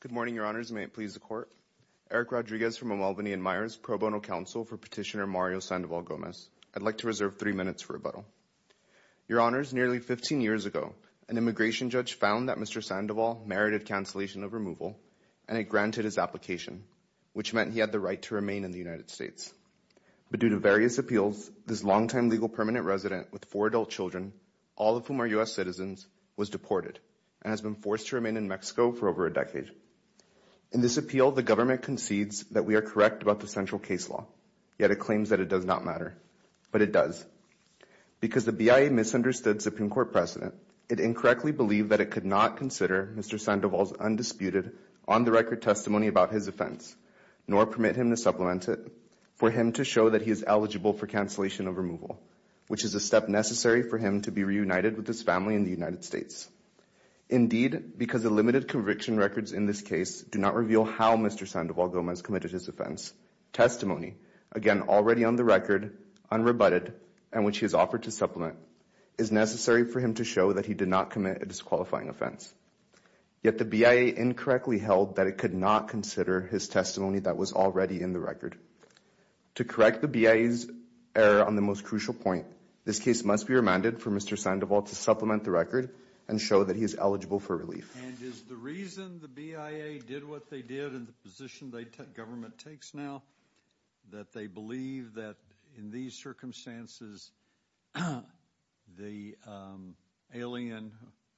Good morning, Your Honours, and may it please the Court. Eric Rodriguez from El Malvinian Myers, Pro Bono Counsel for Petitioner Mario Sandoval-Gomez. I'd like to reserve three minutes for rebuttal. Your Honours, nearly 15 years ago, an immigration judge found that Mr. Sandoval merited cancellation of removal, and he granted his application, which meant he had the right to remain in the United States. But due to various appeals, this long-time legal permanent resident with four adult children, all of whom are U.S. citizens, was deported and has been forced to remain in Mexico for over a decade. In this appeal, the government concedes that we are correct about the central case law, yet it claims that it does not matter. But it does. Because the BIA misunderstood Supreme Court precedent, it incorrectly believed that it could not consider Mr. Sandoval's undisputed, on-the-record testimony about his offense, nor permit him to supplement it, for him to show that he is eligible for cancellation of removal, which is a step necessary for him to be reunited with his family in the United States. Indeed, because the limited conviction records in this case do not reveal how Mr. Sandoval-Gomez committed his offense, testimony, again, already on the record, unrebutted, and which he has offered to supplement, is necessary for him to show that he did not commit a disqualifying offense. Yet the BIA incorrectly held that it could not consider his testimony that was already in the record. To correct the BIA's error on the most crucial point, this case must be remanded for Mr. Sandoval to supplement the record and show that he is eligible for relief. And is the reason the BIA did what they did, and the position the government takes now, that they believe that in these circumstances, the alien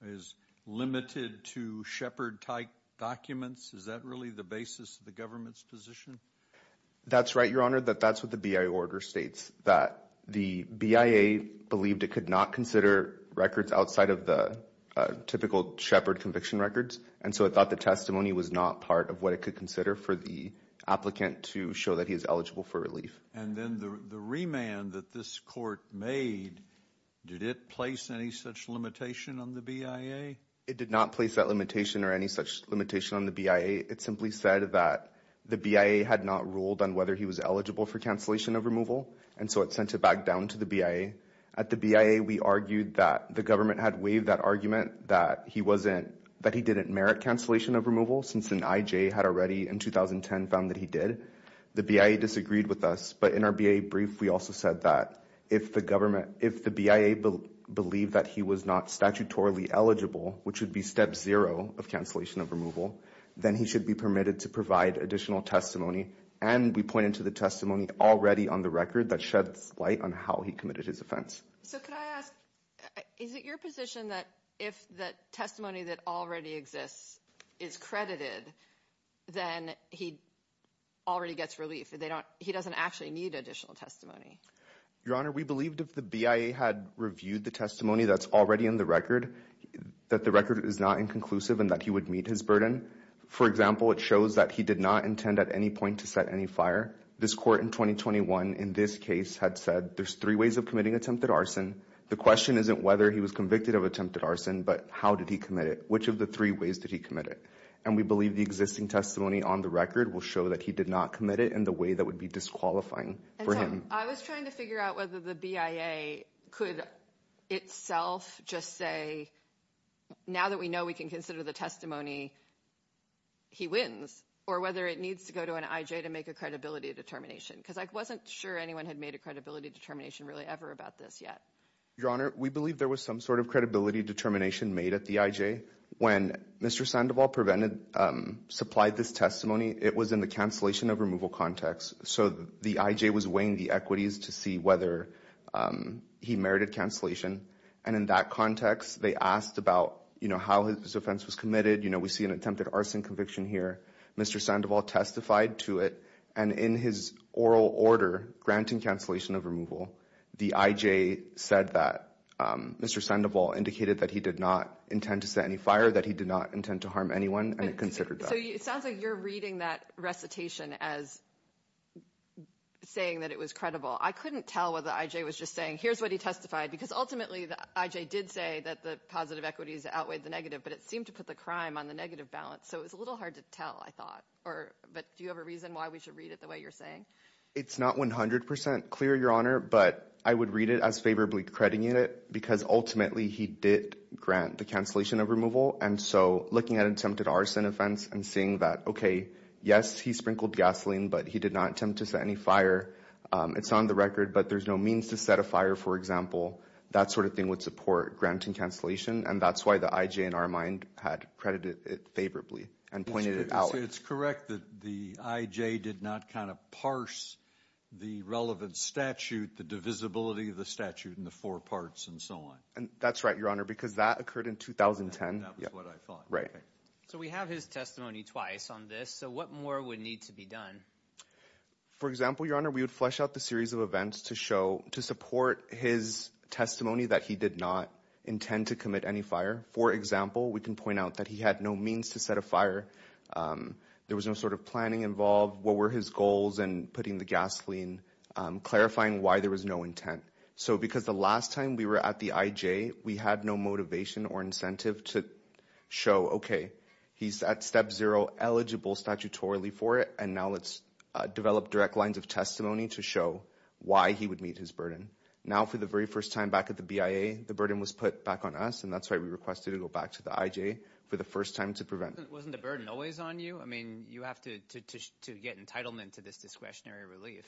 is limited to Shepard-type documents? Is that really the basis of the government's position? That's right, Your Honor. That's what the BIA order states, that the BIA believed it could not consider records outside of the typical Shepard conviction records, and so it thought the testimony was not part of what it could consider for the applicant to show that he is eligible for relief. And then the remand that this court made, did it place any such limitation on the BIA? It did not place that limitation or any such limitation on the BIA. It simply said that the BIA had not ruled on whether he was eligible for cancellation of removal, and so it sent it back down to the BIA. At the BIA, we argued that the government had waived that argument, that he didn't merit cancellation of removal, since an IJ had already, in 2010, found that he did. The BIA disagreed with us, but in our BIA brief, we also said that if the government, if the BIA believed that he was not statutorily eligible, which would be step zero of cancellation of removal, then he should be permitted to provide additional testimony. And we pointed to the testimony already on the record that sheds light on how he committed his offense. So, could I ask, is it your position that if the testimony that already exists is credited, then he already gets relief? He doesn't actually need additional testimony? Your Honor, we believed if the BIA had reviewed the testimony that's already in the record, that the record is not inconclusive and that he would meet his burden. For example, it shows that he did not intend at any point to set any fire. This court in 2021, in this case, had said there's three ways of committing attempted arson. The question isn't whether he was convicted of attempted arson, but how did he commit it? Which of the three ways did he commit it? And we believe the existing testimony on the record will show that he did not commit it in the way that would be disqualifying for him. I was trying to figure out whether the BIA could itself just say, now that we know we can consider the testimony, he wins, or whether it needs to go to an IJ to make a credibility determination. Because I wasn't sure anyone had made a credibility determination really ever about this yet. Your Honor, we believe there was some sort of credibility determination made at the IJ. When Mr. Sandoval provided, supplied this testimony, it was in the cancellation of removal context. So, the IJ was weighing the equities to see whether he merited cancellation. And in that context, they asked about how his offense was committed. We see an attempted arson conviction here. Mr. Sandoval testified to it. And in his oral order, granting cancellation of removal, the IJ said that Mr. Sandoval indicated that he did not intend to set any fire, that he did not intend to harm anyone, and it considered that. So, it sounds like you're reading that recitation as saying that it was credible. I couldn't tell whether the IJ was just saying, here's what he testified. Because ultimately, the IJ did say that the positive equities outweighed the negative. But it seemed to put the crime on the negative balance, so it was a little hard to tell, I thought. But do you have a reason why we should read it the way you're saying? It's not 100% clear, Your Honor. But I would read it as favorably crediting it, because ultimately, he did grant the cancellation of removal. And so, looking at an attempted arson offense and seeing that, okay, yes, he sprinkled gasoline, but he did not attempt to set any fire. It's on the record, but there's no means to set a fire, for example. That sort of thing would support granting cancellation. And that's why the IJ, in our mind, had credited it favorably and pointed it out. It's correct that the IJ did not kind of parse the relevant statute, the divisibility of the statute in the four parts, and so on. And that's right, Your Honor, because that occurred in 2010. That was what I thought. Right. So, we have his testimony twice on this, so what more would need to be done? For example, Your Honor, we would flesh out the series of events to show, to support his testimony that he did not intend to commit any fire. For example, we can point out that he had no means to set a fire. There was no sort of planning involved, what were his goals in putting the gasoline, clarifying why there was no intent. So because the last time we were at the IJ, we had no motivation or incentive to show, okay, he's at step zero, eligible statutorily for it, and now let's develop direct lines of testimony to show why he would meet his burden. Now for the very first time back at the BIA, the burden was put back on us, and that's why we requested to go back to the IJ for the first time to prevent. Wasn't the burden always on you? I mean, you have to get entitlement to this discretionary relief.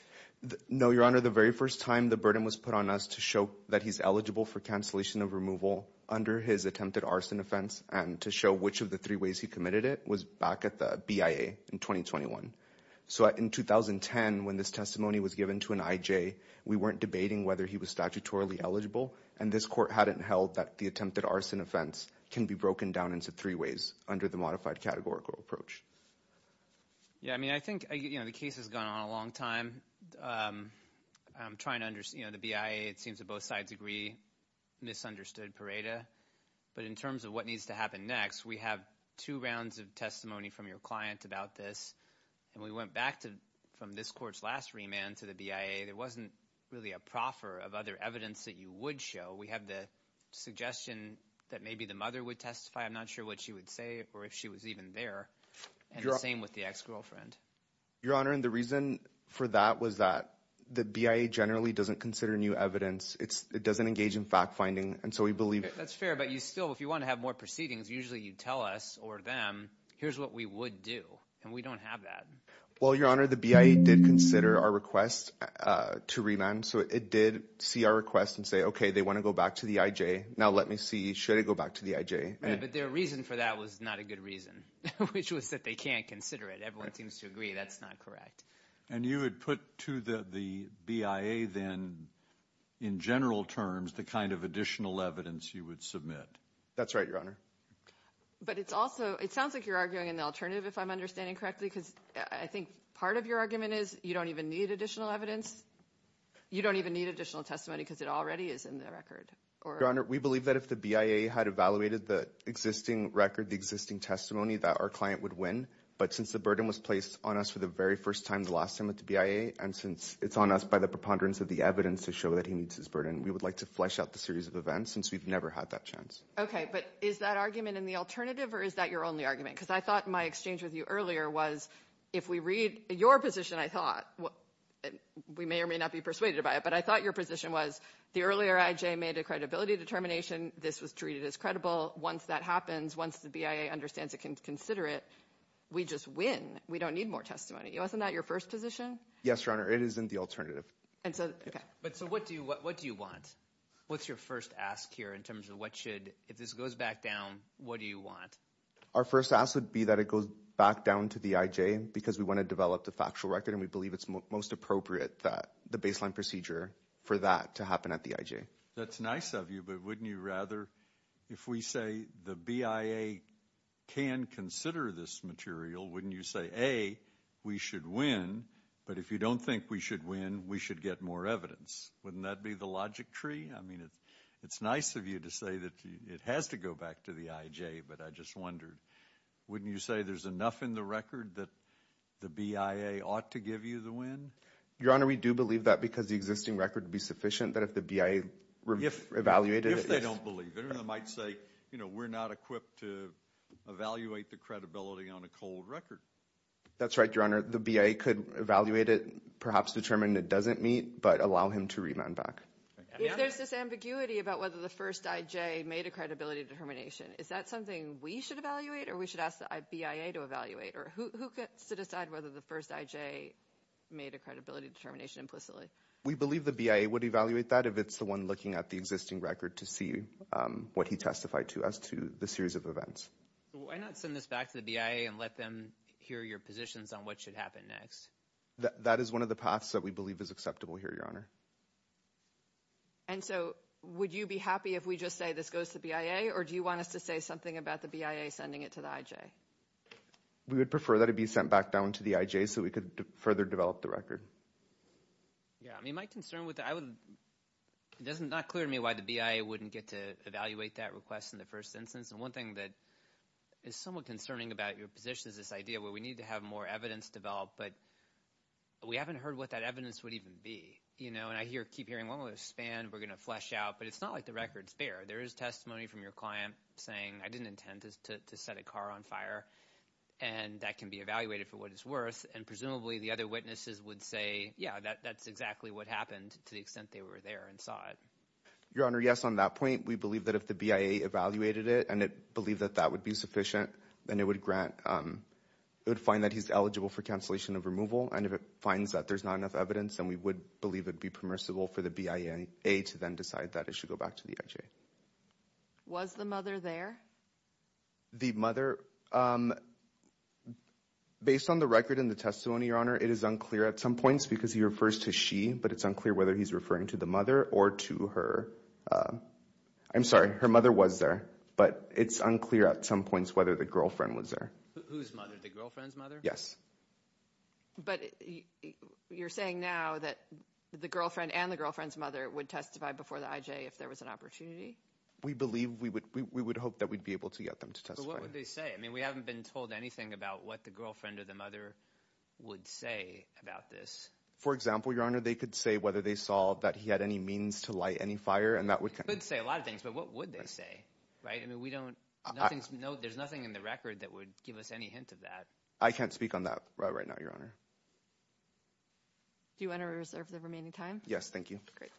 No, Your Honor, the very first time the burden was put on us to show that he's eligible for cancellation of removal under his attempted arson offense, and to show which of the three ways he committed it was back at the BIA in 2021. So in 2010, when this testimony was given to an IJ, we weren't debating whether he was statutorily eligible, and this court hadn't held that the attempted arson offense can be broken down into three ways under the modified categorical approach. Yeah, I mean, I think, you know, the case has gone on a long time. I'm trying to understand, you know, the BIA, it seems to both sides agree, misunderstood Pareda, but in terms of what needs to happen next, we have two rounds of testimony from your client about this, and we went back to, from this court's last remand to the BIA, there wasn't really a proffer of other evidence that you would show. We have the suggestion that maybe the mother would testify, I'm not sure what she would say or if she was even there, and the same with the ex-girlfriend. Your Honor, and the reason for that was that the BIA generally doesn't consider new evidence, it doesn't engage in fact-finding, and so we believe... That's fair, but you still, if you want to have more proceedings, usually you tell us or them, here's what we would do, and we don't have that. Well, Your Honor, the BIA did consider our request to remand, so it did see our request and say, okay, they want to go back to the IJ, now let me see, should I go back to the IJ? But their reason for that was not a good reason, which was that they can't consider it. Everyone seems to agree that's not correct. And you would put to the BIA then, in general terms, the kind of additional evidence you would submit. That's right, Your Honor. But it's also, it sounds like you're arguing an alternative, if I'm understanding correctly, because I think part of your argument is you don't even need additional evidence, you don't even need additional testimony because it already is in the record. Your Honor, we believe that if the BIA had evaluated the existing record, the existing client would win. But since the burden was placed on us for the very first time the last time at the BIA, and since it's on us by the preponderance of the evidence to show that he meets his burden, we would like to flesh out the series of events, since we've never had that chance. Okay, but is that argument in the alternative, or is that your only argument? Because I thought my exchange with you earlier was, if we read your position, I thought, we may or may not be persuaded by it, but I thought your position was, the earlier IJ made a credibility determination, this was treated as credible. Once that happens, once the BIA understands it can consider it, we just win. We don't need more testimony. Wasn't that your first position? Yes, Your Honor. It is in the alternative. Okay. But so what do you want? What's your first ask here, in terms of what should, if this goes back down, what do you want? Our first ask would be that it goes back down to the IJ, because we want to develop the factual record, and we believe it's most appropriate that the baseline procedure for that to happen at the IJ. Okay. That's nice of you, but wouldn't you rather, if we say the BIA can consider this material, wouldn't you say, A, we should win, but if you don't think we should win, we should get more evidence? Wouldn't that be the logic tree? I mean, it's nice of you to say that it has to go back to the IJ, but I just wondered, wouldn't you say there's enough in the record that the BIA ought to give you the win? Your Honor, we do believe that, because the existing record would be sufficient that if the BIA evaluated it. If they don't believe it, or they might say, you know, we're not equipped to evaluate the credibility on a cold record. That's right, Your Honor. The BIA could evaluate it, perhaps determine it doesn't meet, but allow him to remand back. If there's this ambiguity about whether the first IJ made a credibility determination, is that something we should evaluate, or we should ask the BIA to evaluate, or who gets to decide whether the first IJ made a credibility determination implicitly? We believe the BIA would evaluate that if it's the one looking at the existing record to see what he testified to as to the series of events. Why not send this back to the BIA and let them hear your positions on what should happen next? That is one of the paths that we believe is acceptable here, Your Honor. And so, would you be happy if we just say this goes to the BIA, or do you want us to say something about the BIA sending it to the IJ? We would prefer that it be sent back down to the IJ so we could further develop the investigation. Yeah. I mean, my concern with that, I would, it's not clear to me why the BIA wouldn't get to evaluate that request in the first instance, and one thing that is somewhat concerning about your position is this idea where we need to have more evidence developed, but we haven't heard what that evidence would even be, you know? And I keep hearing, well, we're going to expand, we're going to flesh out, but it's not like the record's fair. There is testimony from your client saying, I didn't intend to set a car on fire, and that can be evaluated for what it's worth. And presumably, the other witnesses would say, yeah, that's exactly what happened to the extent they were there and saw it. Your Honor, yes, on that point, we believe that if the BIA evaluated it, and it believed that that would be sufficient, then it would grant, it would find that he's eligible for cancellation of removal, and if it finds that there's not enough evidence, then we would believe it would be permissible for the BIA to then decide that it should go back to the Was the mother there? The mother, based on the record and the testimony, Your Honor, it is unclear at some points because he refers to she, but it's unclear whether he's referring to the mother or to her. I'm sorry, her mother was there, but it's unclear at some points whether the girlfriend was there. Whose mother? The girlfriend's mother? Yes. But you're saying now that the girlfriend and the girlfriend's mother would testify before the IJ if there was an opportunity? We believe, we would hope that we'd be able to get them to testify. But what would they say? I mean, we haven't been told anything about what the girlfriend or the mother would say about this. For example, Your Honor, they could say whether they saw that he had any means to light any fire and that would... They could say a lot of things, but what would they say? Right? I mean, we don't... There's nothing in the record that would give us any hint of that. I can't speak on that right now, Your Honor. Do you want to reserve the remaining time? Yes, thank you. Great.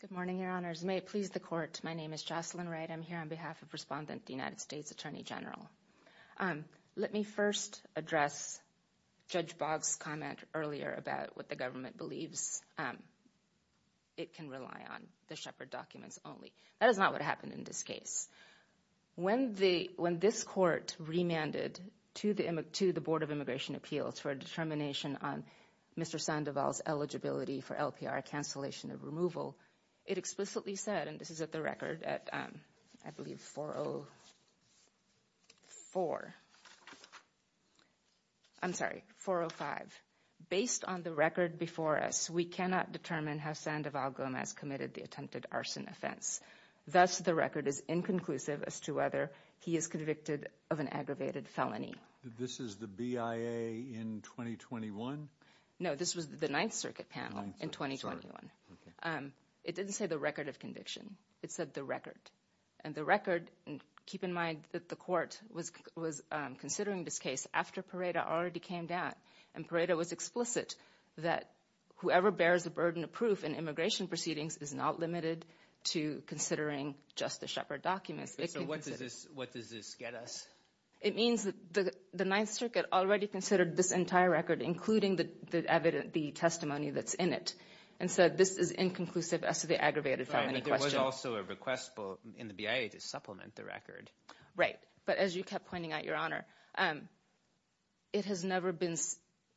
Good morning, Your Honors. May it please the court. My name is Jocelyn Wright. I'm here on behalf of Respondent, the United States Attorney General. Let me first address Judge Boggs' comment earlier about what the government believes it can rely on, the Shepard documents only. That is not what happened in this case. When this court remanded to the Board of Immigration Appeals for a determination on Mr. Sandoval's eligibility for LPR cancellation of removal, it explicitly said, and this is at the record at, I believe, 404. I'm sorry, 405. Based on the record before us, we cannot determine how Sandoval Gomez committed the attempted arson offense. Thus, the record is inconclusive as to whether he is convicted of an aggravated felony. This is the BIA in 2021? No, this was the Ninth Circuit panel in 2021. It didn't say the record of conviction. It said the record. And the record, and keep in mind that the court was considering this case after Pareto already came down. And Pareto was explicit that whoever bears the burden of proof in immigration proceedings is not limited to considering just the Shepard documents. So what does this get us? It means that the Ninth Circuit already considered this entire record, including the testimony that's in it. And so this is inconclusive as to the aggravated felony question. But there was also a request in the BIA to supplement the record. Right. But as you kept pointing out, Your Honor, it has never been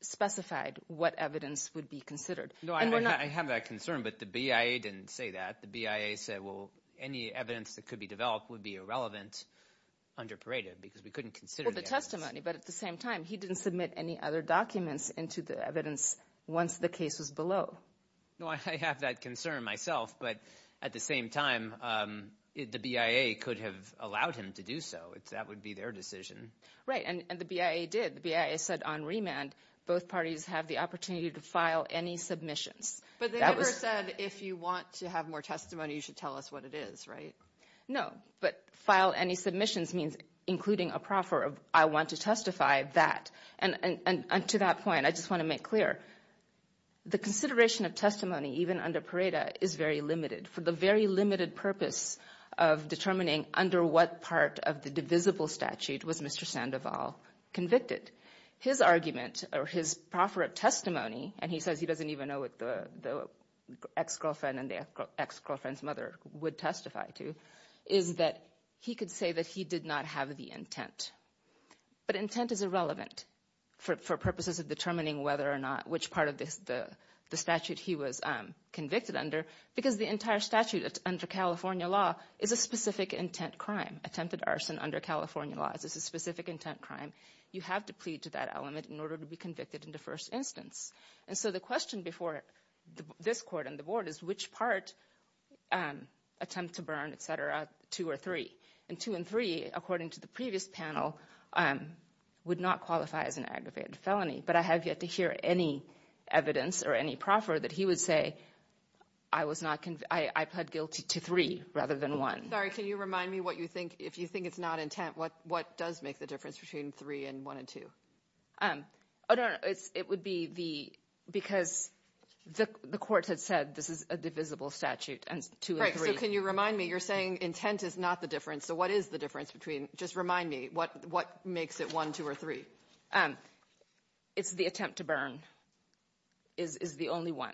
specified what evidence would be considered. No, I have that concern, but the BIA didn't say that. The BIA said, well, any evidence that could be developed would be irrelevant under Pareto because we couldn't consider the evidence. But at the same time, he didn't submit any other documents into the evidence once the case was below. No, I have that concern myself. But at the same time, the BIA could have allowed him to do so. That would be their decision. Right. And the BIA did. The BIA said on remand, both parties have the opportunity to file any submissions. But they never said, if you want to have more testimony, you should tell us what it is, right? No. But file any submissions means including a proffer of, I want to testify that. And to that point, I just want to make clear, the consideration of testimony, even under Pareto, is very limited for the very limited purpose of determining under what part of the divisible statute was Mr. Sandoval convicted. His argument, or his proffer of testimony, and he says he doesn't even know what the ex-girlfriend and the ex-girlfriend's mother would testify to, is that he could say that he did not have the intent. But intent is irrelevant for purposes of determining whether or not, which part of the statute he was convicted under, because the entire statute under California law is a specific intent crime. Attempted arson under California law is a specific intent crime. You have to plead to that element in order to be convicted in the first instance. And so the question before this Court and the Board is, which part, attempt to burn, et cetera, two or three? And two and three, according to the previous panel, would not qualify as an aggravated felony. But I have yet to hear any evidence or any proffer that he would say, I pled guilty to three rather than one. Sorry, can you remind me what you think, if you think it's not intent, what does make the difference between three and one and two? Oh, no, no, it would be the, because the Court had said this is a divisible statute, and two and three. Right, so can you remind me, you're saying intent is not the difference, so what is the difference between, just remind me, what makes it one, two, or three? It's the attempt to burn is the only one.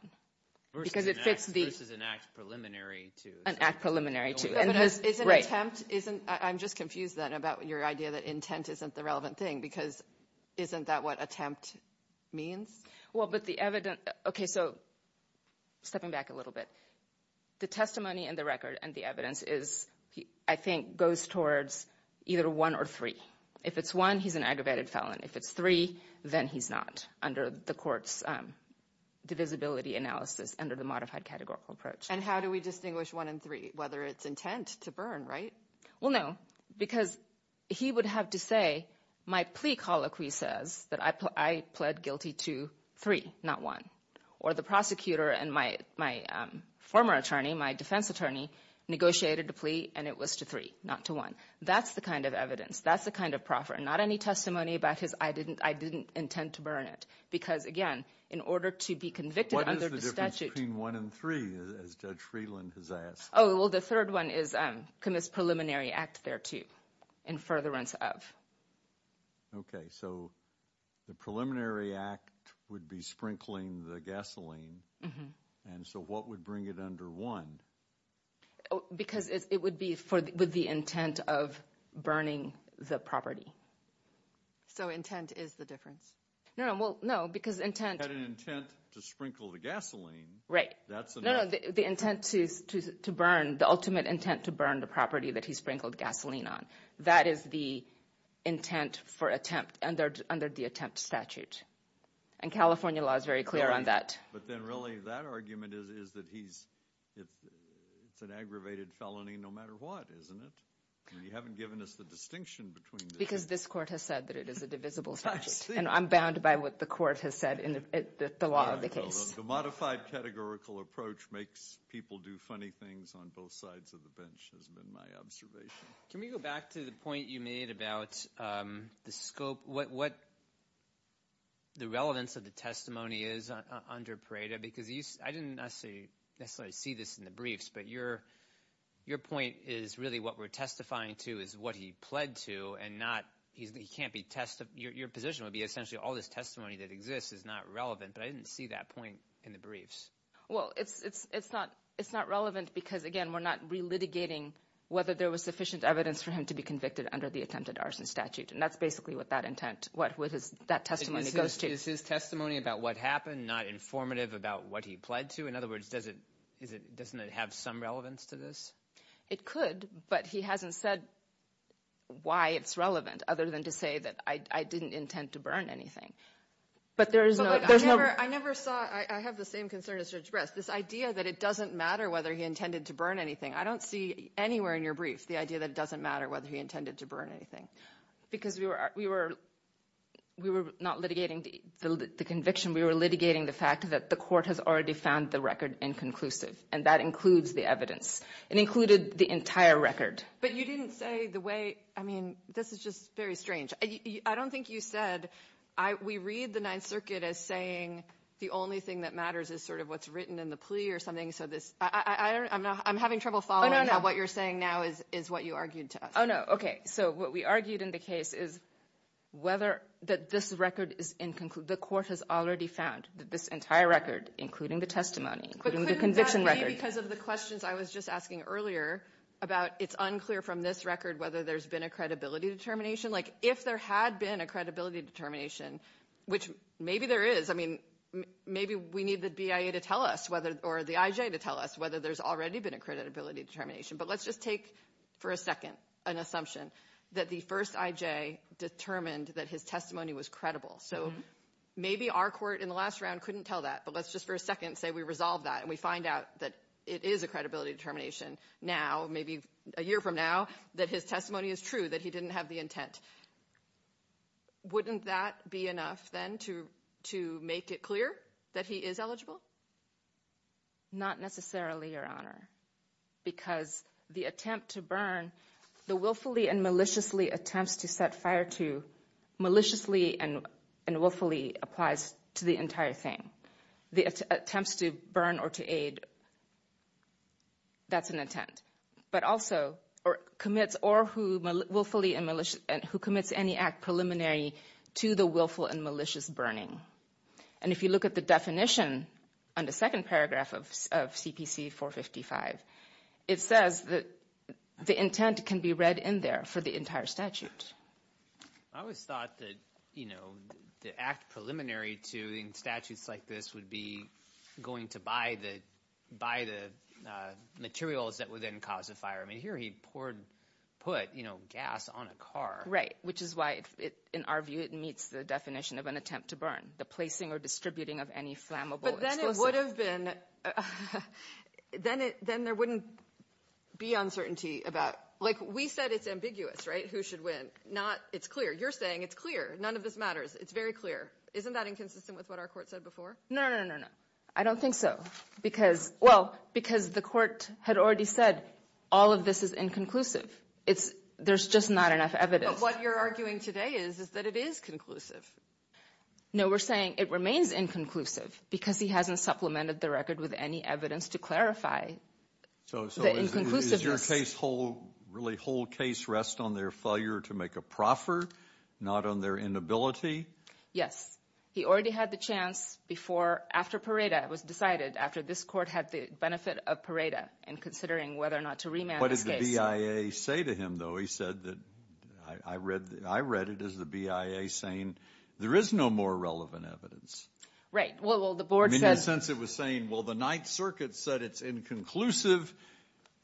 Because it fits the- Versus an act preliminary to. An act preliminary to. But an attempt isn't, I'm just confused then about your idea that intent isn't the relevant thing, because isn't that what attempt means? Well, but the evidence, okay, so stepping back a little bit, the testimony in the record and the evidence is, I think, goes towards either one or three. If it's one, he's an aggravated felon. If it's three, then he's not, under the Court's divisibility analysis, under the modified categorical approach. And how do we distinguish one and three? Whether it's intent to burn, right? Well, no, because he would have to say, my plea colloquy says that I pled guilty to three, not one. Or the prosecutor and my former attorney, my defense attorney, negotiated a plea and it was to three, not to one. That's the kind of evidence, that's the kind of proffer. Not any testimony about his, I didn't intend to burn it, because again, in order to be convicted under the statute- That's what Judge Freeland has asked. Oh, well, the third one is, commits preliminary act thereto, in furtherance of. Okay, so the preliminary act would be sprinkling the gasoline. And so what would bring it under one? Because it would be for, with the intent of burning the property. So intent is the difference? No, well, no, because intent- Had an intent to sprinkle the gasoline. Right. No, no, the intent to burn, the ultimate intent to burn the property that he sprinkled gasoline on. That is the intent for attempt, under the attempt statute. And California law is very clear on that. But then really, that argument is that he's, it's an aggravated felony no matter what, isn't it? And you haven't given us the distinction between the two. Because this court has said that it is a divisible statute. And I'm bound by what the court has said in the law of the case. The modified categorical approach makes people do funny things on both sides of the bench has been my observation. Can we go back to the point you made about the scope, what the relevance of the testimony is under Pareto? Because I didn't necessarily see this in the briefs, but your point is really what we're testifying to is what he pled to, and not, he can't be, your position would be essentially all this testimony that exists is not relevant, but I didn't see that point in the briefs. Well, it's not relevant because again, we're not re-litigating whether there was sufficient evidence for him to be convicted under the attempted arson statute. And that's basically what that intent, what that testimony goes to. Is his testimony about what happened not informative about what he pled to? In other words, doesn't it have some relevance to this? It could, but he hasn't said why it's relevant other than to say that I didn't intend to burn anything. But there is no... I never saw, I have the same concern as Judge Brest. This idea that it doesn't matter whether he intended to burn anything, I don't see anywhere in your brief the idea that it doesn't matter whether he intended to burn anything. Because we were not litigating the conviction, we were litigating the fact that the court has already found the record inconclusive, and that includes the evidence. It included the entire record. But you didn't say the way, I mean, this is just very strange. I don't think you said, we read the Ninth Circuit as saying the only thing that matters is sort of what's written in the plea or something. So this, I don't know, I'm having trouble following what you're saying now is what you argued to us. Oh, no, okay. So what we argued in the case is whether that this record is inconclusive, the court has already found that this entire record, including the testimony, including the conviction record. But couldn't that be because of the questions I was just asking earlier about it's unclear from this record whether there's been a credibility determination? If there had been a credibility determination, which maybe there is, I mean, maybe we need the BIA to tell us whether, or the IJ to tell us whether there's already been a credibility determination. But let's just take for a second an assumption that the first IJ determined that his testimony was credible. So maybe our court in the last round couldn't tell that, but let's just for a second say we resolve that and we find out that it is a credibility determination now, maybe a year from now that his testimony is true, that he didn't have the intent. Wouldn't that be enough then to make it clear that he is eligible? Not necessarily, Your Honor, because the attempt to burn, the willfully and maliciously attempts to set fire to, maliciously and willfully applies to the entire thing. The attempts to burn or to aid, that's an intent. But also, or commits, or who willfully and maliciously, who commits any act preliminary to the willful and malicious burning. And if you look at the definition on the second paragraph of CPC 455, it says that the intent can be read in there for the entire statute. I always thought that, you know, the act preliminary to the statutes like this would be going to by the materials that would then cause a fire. I mean, here he poured, put, you know, gas on a car. Right, which is why, in our view, it meets the definition of an attempt to burn. The placing or distributing of any flammable explosive. But then it would have been, then there wouldn't be uncertainty about, like we said it's ambiguous, right? Who should win? Not, it's clear. You're saying it's clear. None of this matters. It's very clear. Isn't that inconsistent with what our court said before? No, no, no, no, no. I don't think so. Because, well, because the court had already said all of this is inconclusive. It's, there's just not enough evidence. But what you're arguing today is, is that it is conclusive. No, we're saying it remains inconclusive because he hasn't supplemented the record with any evidence to clarify the inconclusiveness. So is your case whole, really whole case rest on their failure to make a proffer, not on their inability? Yes. He already had the chance before, after Pareda was decided, after this court had the benefit of Pareda in considering whether or not to remand this case. What did the BIA say to him, though? He said that, I read, I read it as the BIA saying there is no more relevant evidence. Right. Well, the board says. In a sense, it was saying, well, the Ninth Circuit said it's inconclusive.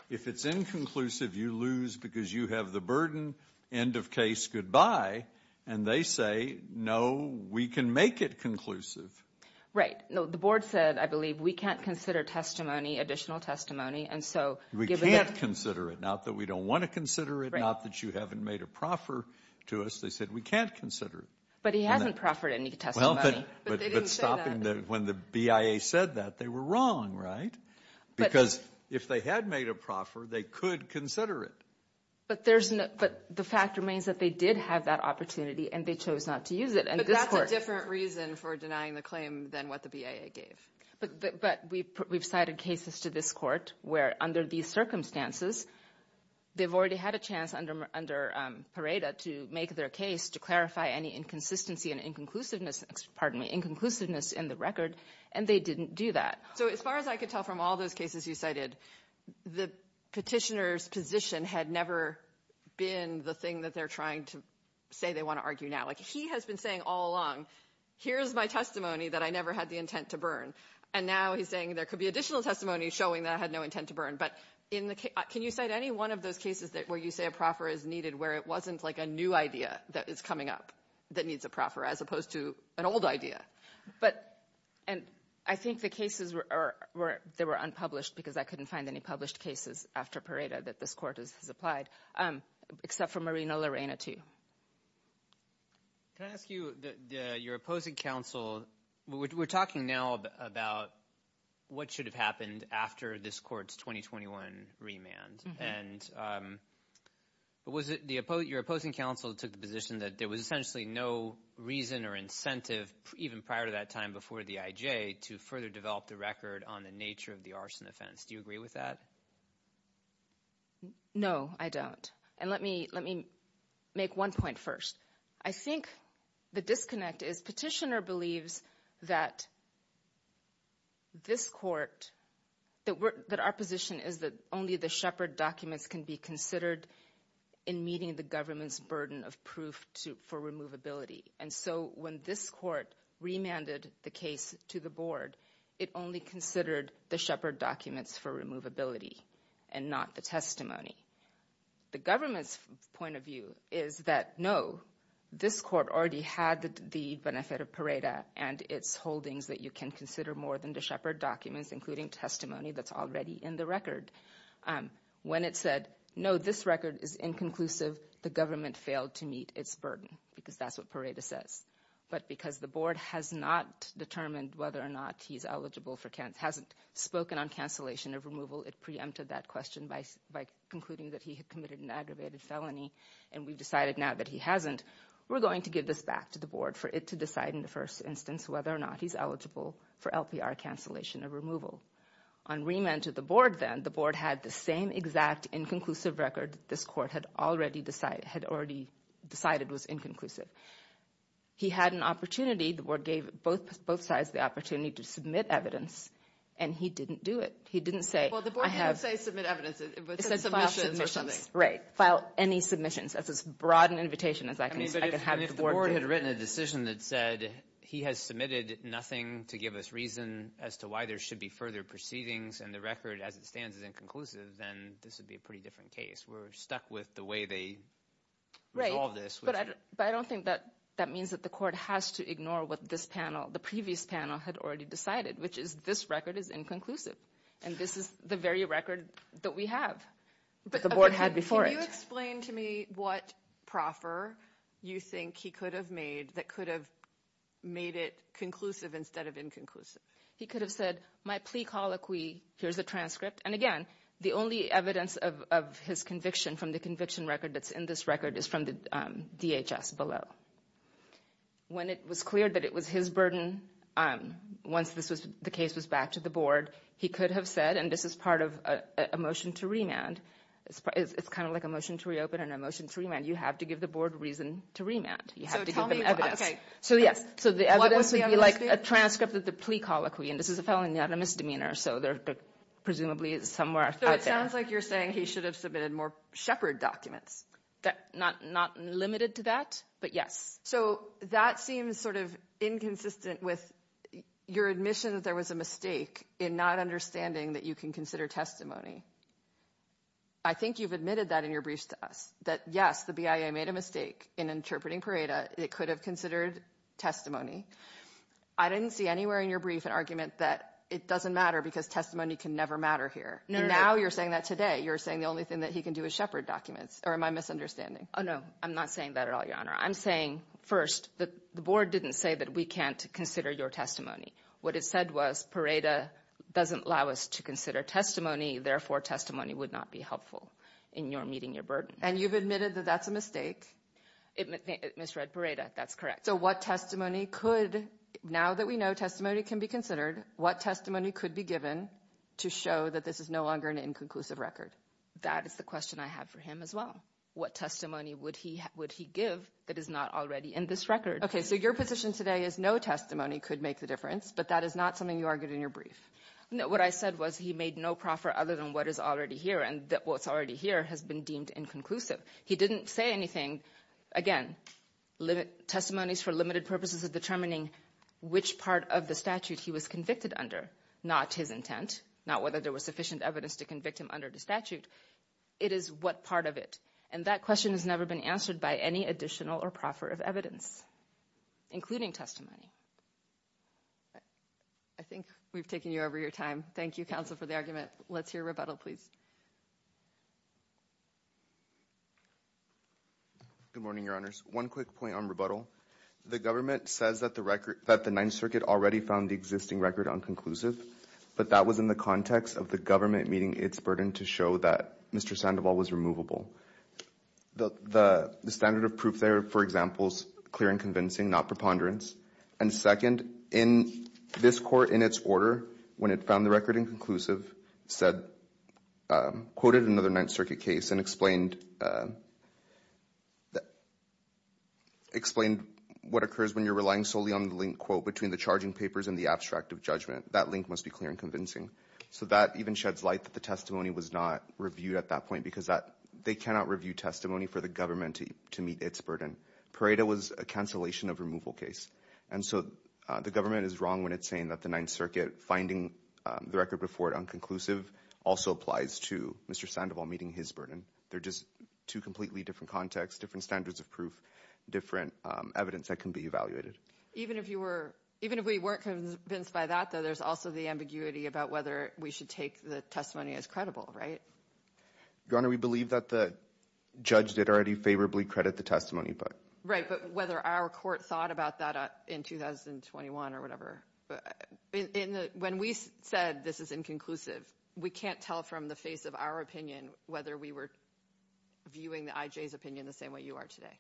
If it's inconclusive, you lose because you have the burden. End of case, goodbye. And they say, no, we can make it conclusive. No, the board said, I believe, we can't consider testimony, additional testimony. And so. We can't consider it. Not that we don't want to consider it. Not that you haven't made a proffer to us. They said we can't consider it. But he hasn't proffered any testimony. But when the BIA said that, they were wrong, right? Because if they had made a proffer, they could consider it. But there's no. But the fact remains that they did have that opportunity and they chose not to use it. And that's a different reason for denying the claim than what the BIA gave. But but we we've cited cases to this court where under these circumstances. They've already had a chance under under Parada to make their case to clarify any inconsistency and inconclusiveness. Pardon me, inconclusiveness in the record. And they didn't do that. So as far as I could tell from all those cases you cited, the petitioner's position had never been the thing that they're trying to say. They want to argue now like he has been saying all along. Here's my testimony that I never had the intent to burn. And now he's saying there could be additional testimony showing that I had no intent to burn. But in the case, can you cite any one of those cases that where you say a proffer is needed, where it wasn't like a new idea that is coming up that needs a proffer as opposed to an old idea? But and I think the cases were there were unpublished because I couldn't find any published cases after Parada that this court has applied, except for Marina Lorena, too. Can I ask you that your opposing counsel, we're talking now about what should have happened after this court's 2021 remand. And was it your opposing counsel took the position that there was essentially no reason or incentive even prior to that time before the IJ to further develop the record on the nature of the arson offense? Do you agree with that? No, I don't. And let me let me make one point first. I think the disconnect is petitioner believes that this court that that our position is that only the Shepherd documents can be considered in meeting the government's burden of proof to for removability. When this court remanded the case to the board, it only considered the Shepherd documents for removability and not the testimony. The government's point of view is that, no, this court already had the benefit of Parada and its holdings that you can consider more than the Shepherd documents, including testimony that's already in the record. When it said, no, this record is inconclusive, the government failed to meet its burden because that's what Parada says. But because the board has not determined whether or not he's eligible for Kent, hasn't spoken on cancellation of removal, it preempted that question by by concluding that he had committed an aggravated felony. And we've decided now that he hasn't. We're going to give this back to the board for it to decide in the first instance, whether or not he's eligible for LPR cancellation of removal. On remand to the board, then the board had the same exact inconclusive record. This court had already decided was inconclusive. He had an opportunity. The board gave both sides the opportunity to submit evidence. And he didn't do it. He didn't say, well, the board didn't say submit evidence. File any submissions. That's as broad an invitation as I can have. If the board had written a decision that said he has submitted nothing to give us reason as to why there should be further proceedings and the record as it stands is inconclusive, then this would be a pretty different case. We're stuck with the way they resolve this. But I don't think that that means that the court has to ignore what this panel, the previous panel had already decided, which is this record is inconclusive. And this is the very record that we have. But the board had before it explained to me what proffer you think he could have made that could have made it conclusive instead of inconclusive. He could have said my plea colloquy. Here's a transcript. And again, the only evidence of his conviction from the conviction record that's in this record is from the DHS below. When it was clear that it was his burden, once this was the case was back to the board, he could have said, and this is part of a motion to remand. It's kind of like a motion to reopen and a motion to remand. You have to give the board reason to remand. You have to give them evidence. So yes. So the evidence would be like a transcript of the plea colloquy. And this is a felony not a misdemeanor. So they're presumably somewhere. So it sounds like you're saying he should have submitted more shepherd documents. Not limited to that. But yes. So that seems sort of inconsistent with your admission that there was a mistake in not understanding that you can consider testimony. I think you've admitted that in your briefs to us that, yes, the BIA made a mistake in interpreting Pareto. It could have considered testimony. I didn't see anywhere in your brief an argument that it doesn't matter because testimony can never matter here. And now you're saying that today. You're saying the only thing that he can do is shepherd documents. Or am I misunderstanding? Oh, no. I'm not saying that at all, Your Honor. I'm saying first that the board didn't say that we can't consider your testimony. What it said was Pareto doesn't allow us to consider testimony. Therefore, testimony would not be helpful in your meeting your burden. And you've admitted that that's a mistake. It misread Pareto. That's correct. So what testimony could now that we know testimony can be considered, what testimony could be given to show that this is no longer an inconclusive record? That is the question I have for him as well. What testimony would he would he give that is not already in this record? OK, so your position today is no testimony could make the difference. But that is not something you argued in your brief. What I said was he made no proffer other than what is already here. And what's already here has been deemed inconclusive. He didn't say anything. Again, testimonies for limited purposes of determining which part of the statute he was convicted under, not his intent, not whether there was sufficient evidence to convict him under the statute. It is what part of it. And that question has never been answered by any additional or proffer of evidence, including testimony. I think we've taken you over your time. Thank you, counsel, for the argument. Let's hear rebuttal, please. Good morning, Your Honors. One quick point on rebuttal. The government says that the record that the Ninth Circuit already found the existing record on conclusive. But that was in the context of the government meeting its burden to show that Mr. Sandoval was removable. The standard of proof there, for example, is clear and convincing, not preponderance. And second, in this court, in its order, when it found the record inconclusive, said, quoted another Ninth Circuit case and explained what occurs when you're relying solely on the link, quote, between the charging papers and the abstract of judgment. That link must be clear and convincing. So that even sheds light that the testimony was not reviewed at that point, because they cannot review testimony for the government to meet its burden. Pareto was a cancellation of removal case. And so the government is wrong when it's saying that the Ninth Circuit finding the record before it unconclusive also applies to Mr. Sandoval meeting his burden. They're just two completely different contexts, different standards of proof, different evidence that can be evaluated. Even if you were, even if we weren't convinced by that, though, there's also the ambiguity about whether we should take the testimony as credible, right? Your Honor, we believe that the judge did already favorably credit the testimony, but. Right, but whether our court thought about that in 2021 or whatever. In the, when we said this is inconclusive, we can't tell from the face of our opinion whether we were viewing the IJ's opinion the same way you are today.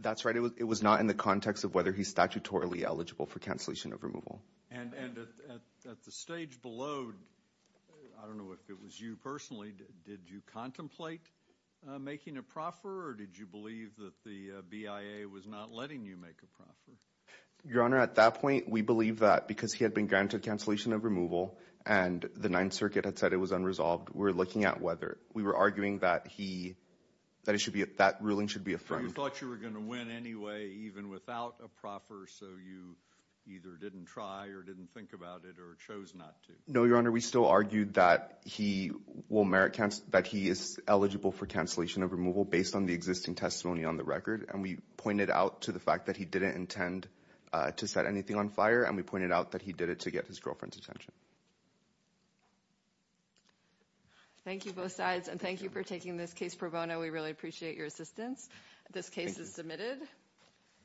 That's right. It was not in the context of whether he's statutorily eligible for cancellation of removal. And at the stage below, I don't know if it was you personally, did you contemplate making a proffer or did you believe that the BIA was not letting you make a proffer? Your Honor, at that point, we believe that because he had been granted cancellation of removal and the Ninth Circuit had said it was unresolved, we're looking at whether we were arguing that he, that it should be, that ruling should be affirmed. You thought you were going to win anyway, even without a proffer, so you either didn't try or didn't think about it or chose not to. No, Your Honor, we still argued that he will merit, that he is eligible for cancellation of removal based on the existing testimony on the record. And we pointed out to the fact that he didn't intend to set anything on fire and we pointed out that he did it to get his girlfriend's attention. Thank you, both sides. And thank you for taking this case pro bono. We really appreciate your assistance. This case is submitted.